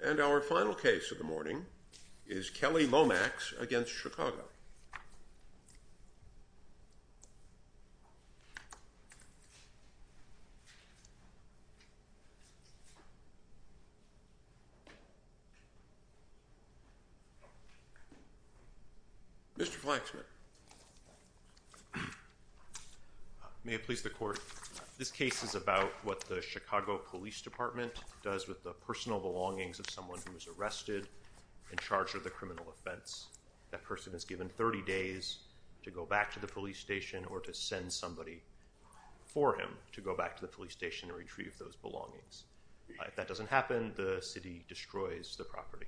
And our final case of the morning is Kelley-Lomax v. City of Chicago. Mr. Flaxman. May it please the court. This case is about what the Chicago Police Department does with the personal belongings of someone who was arrested and charged with a criminal offense. That person is given 30 days to go back to the police station or to send somebody for him to go back to the police station and retrieve those belongings. If that doesn't happen, the city destroys the property.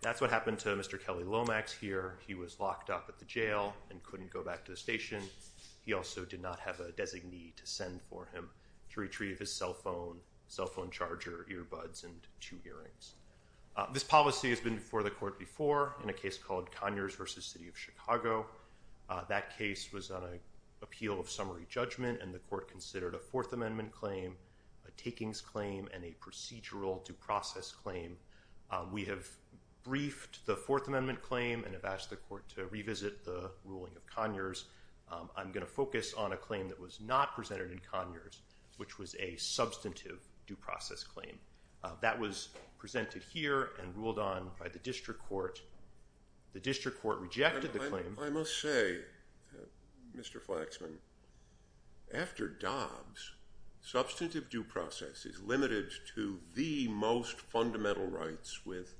That's what happened to Mr. Kelley-Lomax here. He was locked up at the jail and couldn't go back to the station. He also did not have a designee to send for him to retrieve his cell phone, cell phone charger, earbuds, and two earrings. This policy has been before the court before in a case called Conyers v. City of Chicago. That case was on an appeal of summary judgment and the court considered a Fourth Amendment claim, a takings claim, and a procedural due process claim. We have briefed the Fourth Amendment claim and have asked the court to revisit the ruling of Conyers. I'm going to focus on a claim that was not presented in Conyers, which was a substantive due process claim. That was presented here and ruled on by the district court. The district court rejected the claim. I must say, Mr. Flaxman, after Dobbs, substantive due process is limited to the most fundamental rights with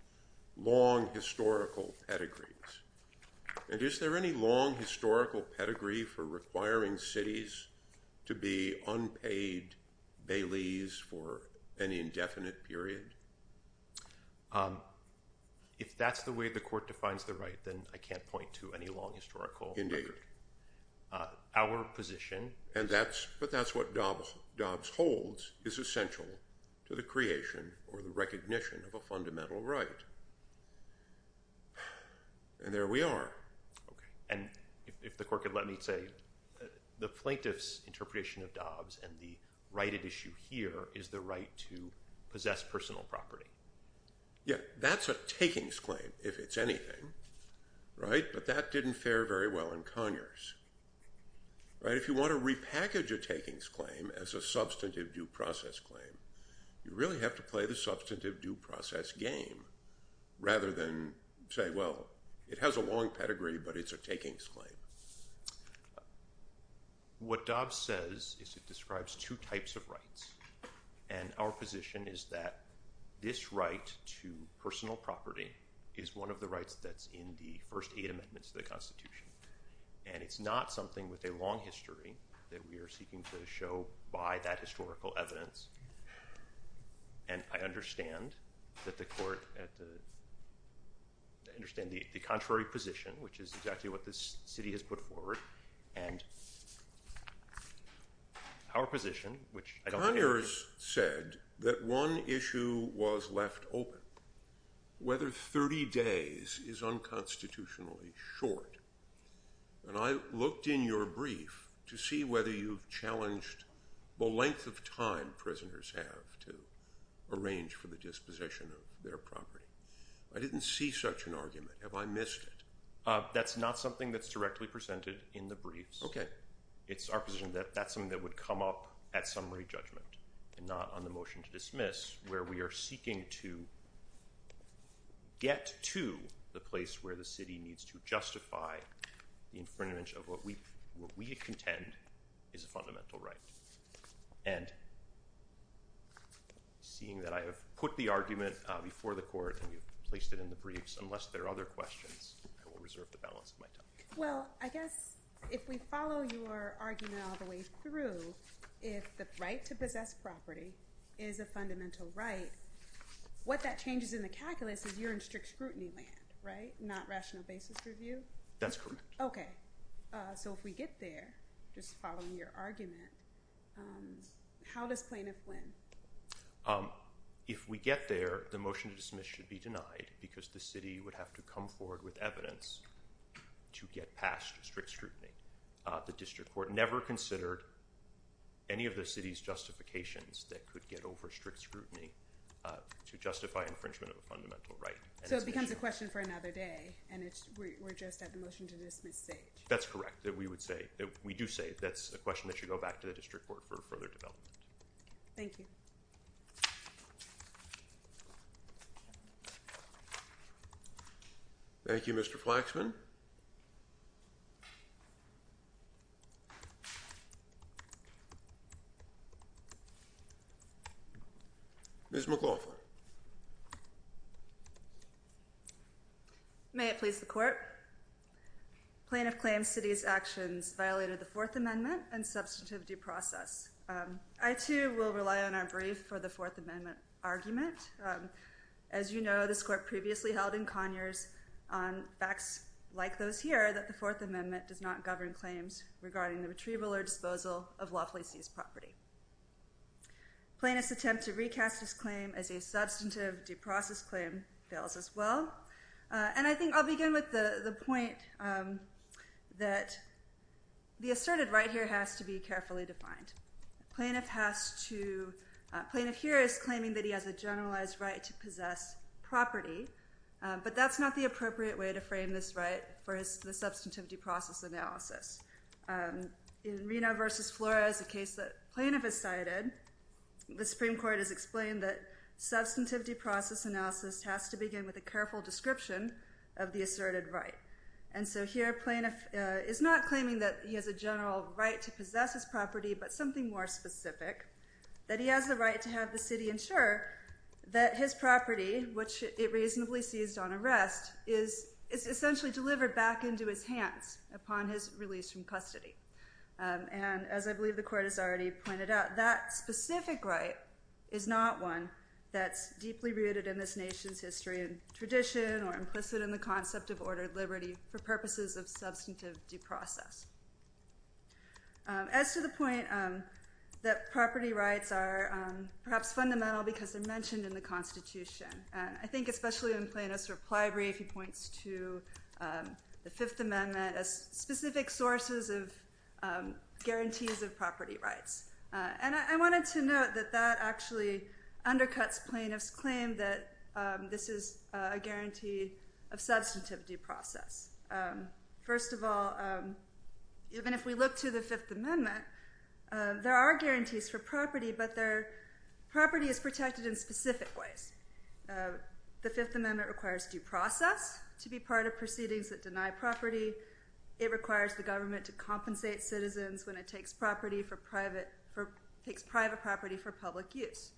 long historical pedigrees. Is there any long historical pedigree for requiring cities to be unpaid baileys for an indefinite period? If that's the way the court defines the right, then I can't point to any long historical record. Indeed. Our position is that's what Dobbs holds is essential to the creation or the recognition of a fundamental right. There we are. If the court could let me say, the plaintiff's interpretation of Dobbs and the right at issue here is the right to possess personal property. That's a takings claim, if it's anything, but that didn't fare very well in Conyers. If you want to repackage a takings claim as a substantive due process claim, you really have to play the substantive due process game, rather than say, well, it has a long pedigree, but it's a takings claim. What Dobbs says is it describes two types of rights, and our position is that this right to personal property is one of the rights that's in the first eight amendments to the Constitution, and it's not something with a long history that we are seeking to show by that historical evidence. And I understand that the court, I understand the contrary position, which is exactly what this city has put forward, and our position, which I don't care. Conyers said that one issue was left open, whether 30 days is unconstitutionally short. And I looked in your brief to see whether you've challenged the length of time prisoners have to arrange for the disposition of their property. I didn't see such an argument. Have I missed it? That's not something that's directly presented in the briefs. It's our position that that's something that would come up at summary judgment, and not on the motion to dismiss, where we are seeking to get to the place where the city needs to justify the infringement of what we contend is a fundamental right. And seeing that I have put the argument before the court, and you've placed it in the briefs, unless there are other questions, I will reserve the balance of my time. Well, I guess if we follow your argument all the way through, if the right to possess property is a fundamental right, what that changes in the calculus is you're in strict scrutiny land, right? Not rational basis review? That's correct. Okay. So if we get there, just following your argument, how does plaintiff win? If we get there, the motion to dismiss should be denied because the city would have to come forward with evidence to get past strict scrutiny. The district court never considered any of the city's justifications that could get over strict scrutiny to justify infringement of a fundamental right. So it becomes a question for another day, and we're just at the motion to dismiss stage? That's correct. We would say, we do say, that's a question that should go back to the district court for further development. Thank you. Thank you, Mr. Flaxman. Ms. McLaughlin. May it please the court. Plaintiff claims city's actions violated the Fourth Amendment and substantive due process. I, too, will rely on our brief for the Fourth Amendment argument. As you know, this court previously held in Conyers on facts like those here that the Fourth Amendment does not govern claims regarding the retrieval or disposal of lawfully seized property. Plaintiff's attempt to recast his claim as a substantive due process claim fails as well. And I think I'll begin with the point that the asserted right here has to be carefully defined. Plaintiff here is claiming that he has a generalized right to possess property, but that's not the appropriate way to frame this right for the substantive due process analysis. In Reno v. Flores, a case that plaintiff has cited, the Supreme Court has explained that substantive due process analysis has to begin with a careful description of the asserted right. And so here, plaintiff is not claiming that he has a general right to possess his property, but something more specific, that he has the right to have the city ensure that his property, which it reasonably seized on arrest, is essentially delivered back into his hands upon his release from custody. And as I believe the Court has already pointed out, that specific right is not one that's deeply rooted in this nation's history and tradition or implicit in the concept of ordered liberty for purposes of substantive due process. As to the point that property rights are perhaps fundamental because they're mentioned in the Constitution, and I think especially in Plaintiff's reply brief, he points to the Fifth Amendment as specific sources of guarantees of property rights. And I wanted to note that that actually undercuts plaintiff's claim that this is a guarantee of substantive due process. First of all, even if we look to the Fifth Amendment, there are guarantees for property, but property is protected in specific ways. The Fifth Amendment requires due process to be part of proceedings that deny property. It requires the government to compensate citizens when it takes private property for public use.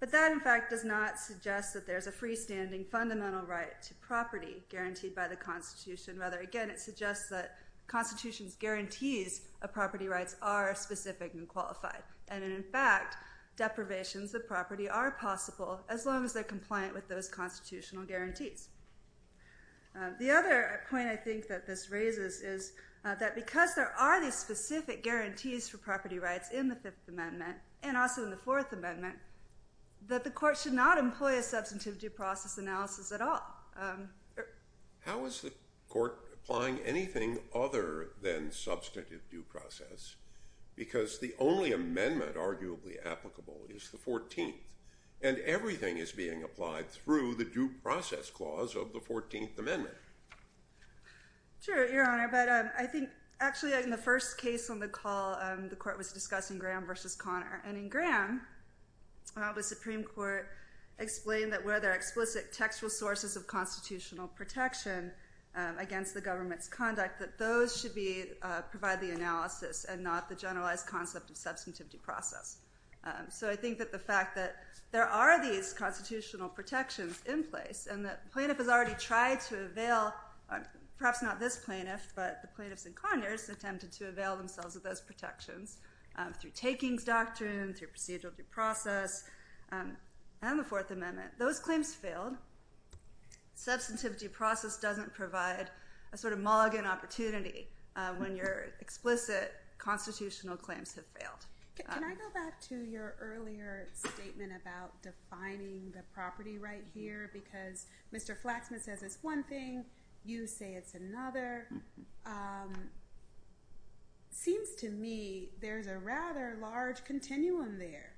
But that, in fact, does not suggest that there's a freestanding fundamental right to property guaranteed by the Constitution. Rather, again, it suggests that the Constitution's guarantees of property rights are specific and qualified. And in fact, deprivations of property are possible as long as they're compliant with those constitutional guarantees. The other point I think that this raises is that because there are these specific guarantees for property rights in the Fifth Amendment, and also in the Fourth Amendment, that the court should not employ a substantive due process analysis at all. How is the court applying anything other than substantive due process? Because the only amendment arguably applicable is the Fourteenth, and everything is being applied through the due process clause of the Fourteenth Amendment. Sure, Your Honor. But I think, actually, in the first case on the call, the court was discussing Graham versus Connor. And in Graham, the Supreme Court explained that where there are explicit textual sources of constitutional protection against the government's conduct, that those should provide the analysis and not the generalized concept of substantive due process. So I think that the fact that there are these constitutional protections in place, and that the plaintiff has already tried to avail—perhaps not this plaintiff, but the plaintiffs and connoisseurs—attempted to avail themselves of those protections through takings doctrine, through procedural due process, and the Fourth Amendment. Those claims failed. Substantive due process doesn't provide a sort of mulligan opportunity when you're explicit constitutional claims have failed. Can I go back to your earlier statement about defining the property right here? Because Mr. Flaxman says it's one thing, you say it's another. Seems to me there's a rather large continuum there.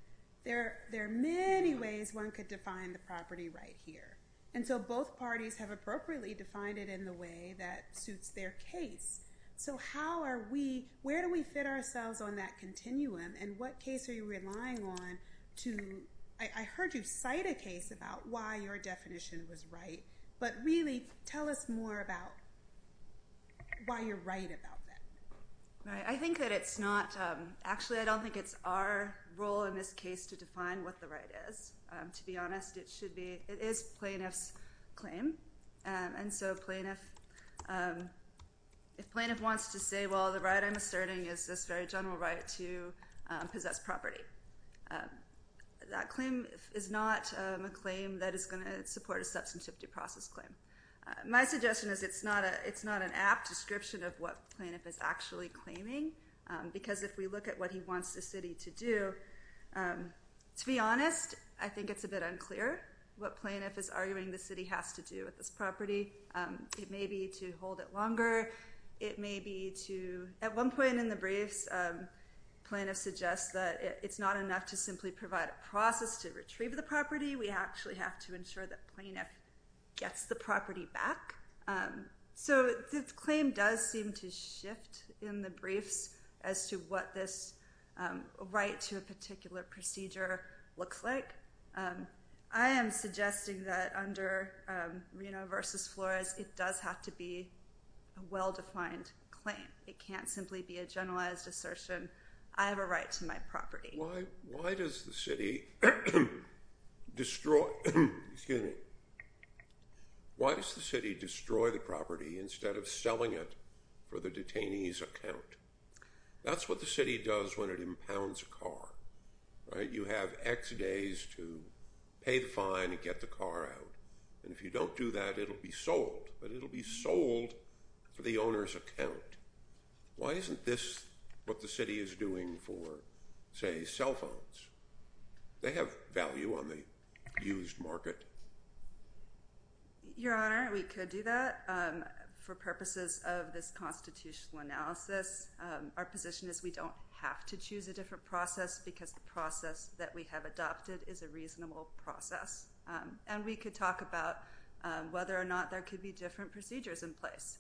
There are many ways one could define the property right here. And so both parties have appropriately defined it in the way that suits their case. So how are we—where do we fit ourselves on that continuum? And what case are you relying on to—I heard you cite a case about why your definition was right. But really, tell us more about why you're right about that. I think that it's not—actually, I don't think it's our role in this case to define what the right is. To be honest, it should be—it is plaintiff's claim. And so plaintiff—if plaintiff wants to say, well, the right I'm asserting is this very general right to possess property, that claim is not a claim that is going to support a substantive due process claim. My suggestion is it's not an apt description of what plaintiff is actually claiming. Because if we look at what he wants the city to do, to be honest, I think it's a bit unclear what plaintiff is arguing the city has to do with this property. It may be to hold it longer. It may be to—at one point in the briefs, plaintiff suggests that it's not enough to simply provide a process to retrieve the property. We actually have to ensure that plaintiff gets the property back. So the claim does seem to shift in the briefs as to what this right to a particular procedure looks like. I am suggesting that under Reno v. Flores, it does have to be a well-defined claim. It can't simply be a generalized assertion, I have a right to my property. Why does the city destroy the property instead of selling it for the detainee's account? That's what the city does when it impounds a car, right? You have X days to pay the fine and get the car out. And if you don't do that, it'll be sold. But it'll be sold for the owner's account. Why isn't this what the city is doing for, say, cell phones? They have value on the used market. Your Honor, we could do that for purposes of this constitutional analysis. Our position is we don't have to choose a different process because the process that we have adopted is a reasonable process. And we could talk about whether or not there could be different procedures in place.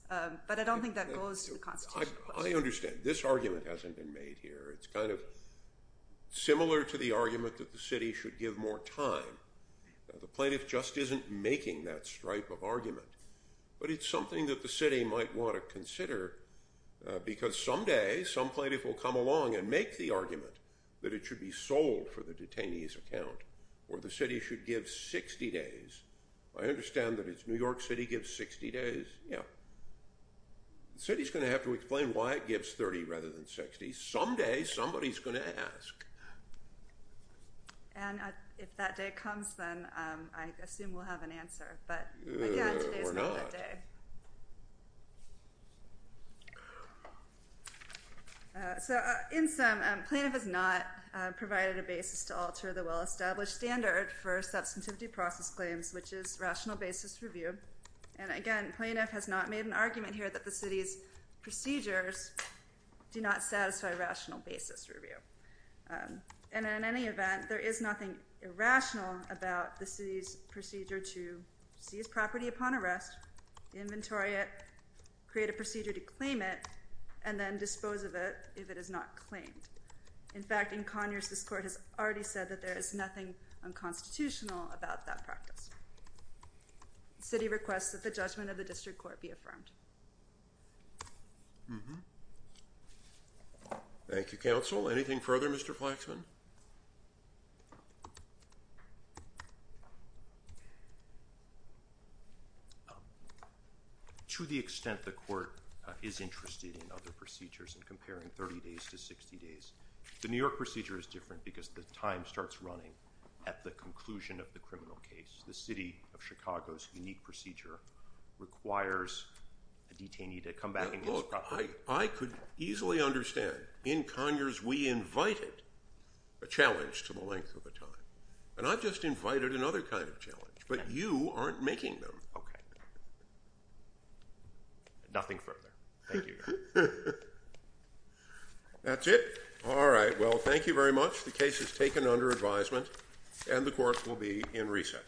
But I don't think that goes to the constitutional process. I understand. This argument hasn't been made here. It's kind of similar to the argument that the city should give more time. The plaintiff just isn't making that stripe of argument. But it's something that the city might want to consider because someday some plaintiff will come along and make the argument that it should be sold for the detainee's account or the city should give 60 days. I understand that it's New York City gives 60 days. The city's going to have to explain why it gives 30 rather than 60. Someday somebody's going to ask. And if that day comes, then I assume we'll have an answer. But again, today's not that day. In sum, plaintiff has not provided a basis to alter the well-established standard for substantivity process claims, which is rational basis review. And again, plaintiff has not made an argument here that the city's procedures do not satisfy rational basis review. And in any event, there is nothing irrational about the city's procedure to seize property upon arrest, inventory it, create a procedure to claim it, and then dispose of it if it is not claimed. In fact, in Conyers, this court has already said that there is nothing unconstitutional about that practice. The city requests that the judgment of the district court be affirmed. Thank you, counsel. Anything further, Mr. Flaxman? To the extent the court is interested in other procedures and comparing 30 days to 60 days, the New York procedure is different because the time starts running at the conclusion of the criminal case. The city of Chicago's unique procedure requires a detainee to come back and use property. I could easily understand. In Conyers, we invited a challenge to the length of a time. And I've just invited another kind of challenge. But you aren't making them. Nothing further. Thank you. That's it? All right. Well, thank you very much. The case is taken under advisement. And the court will be in recess.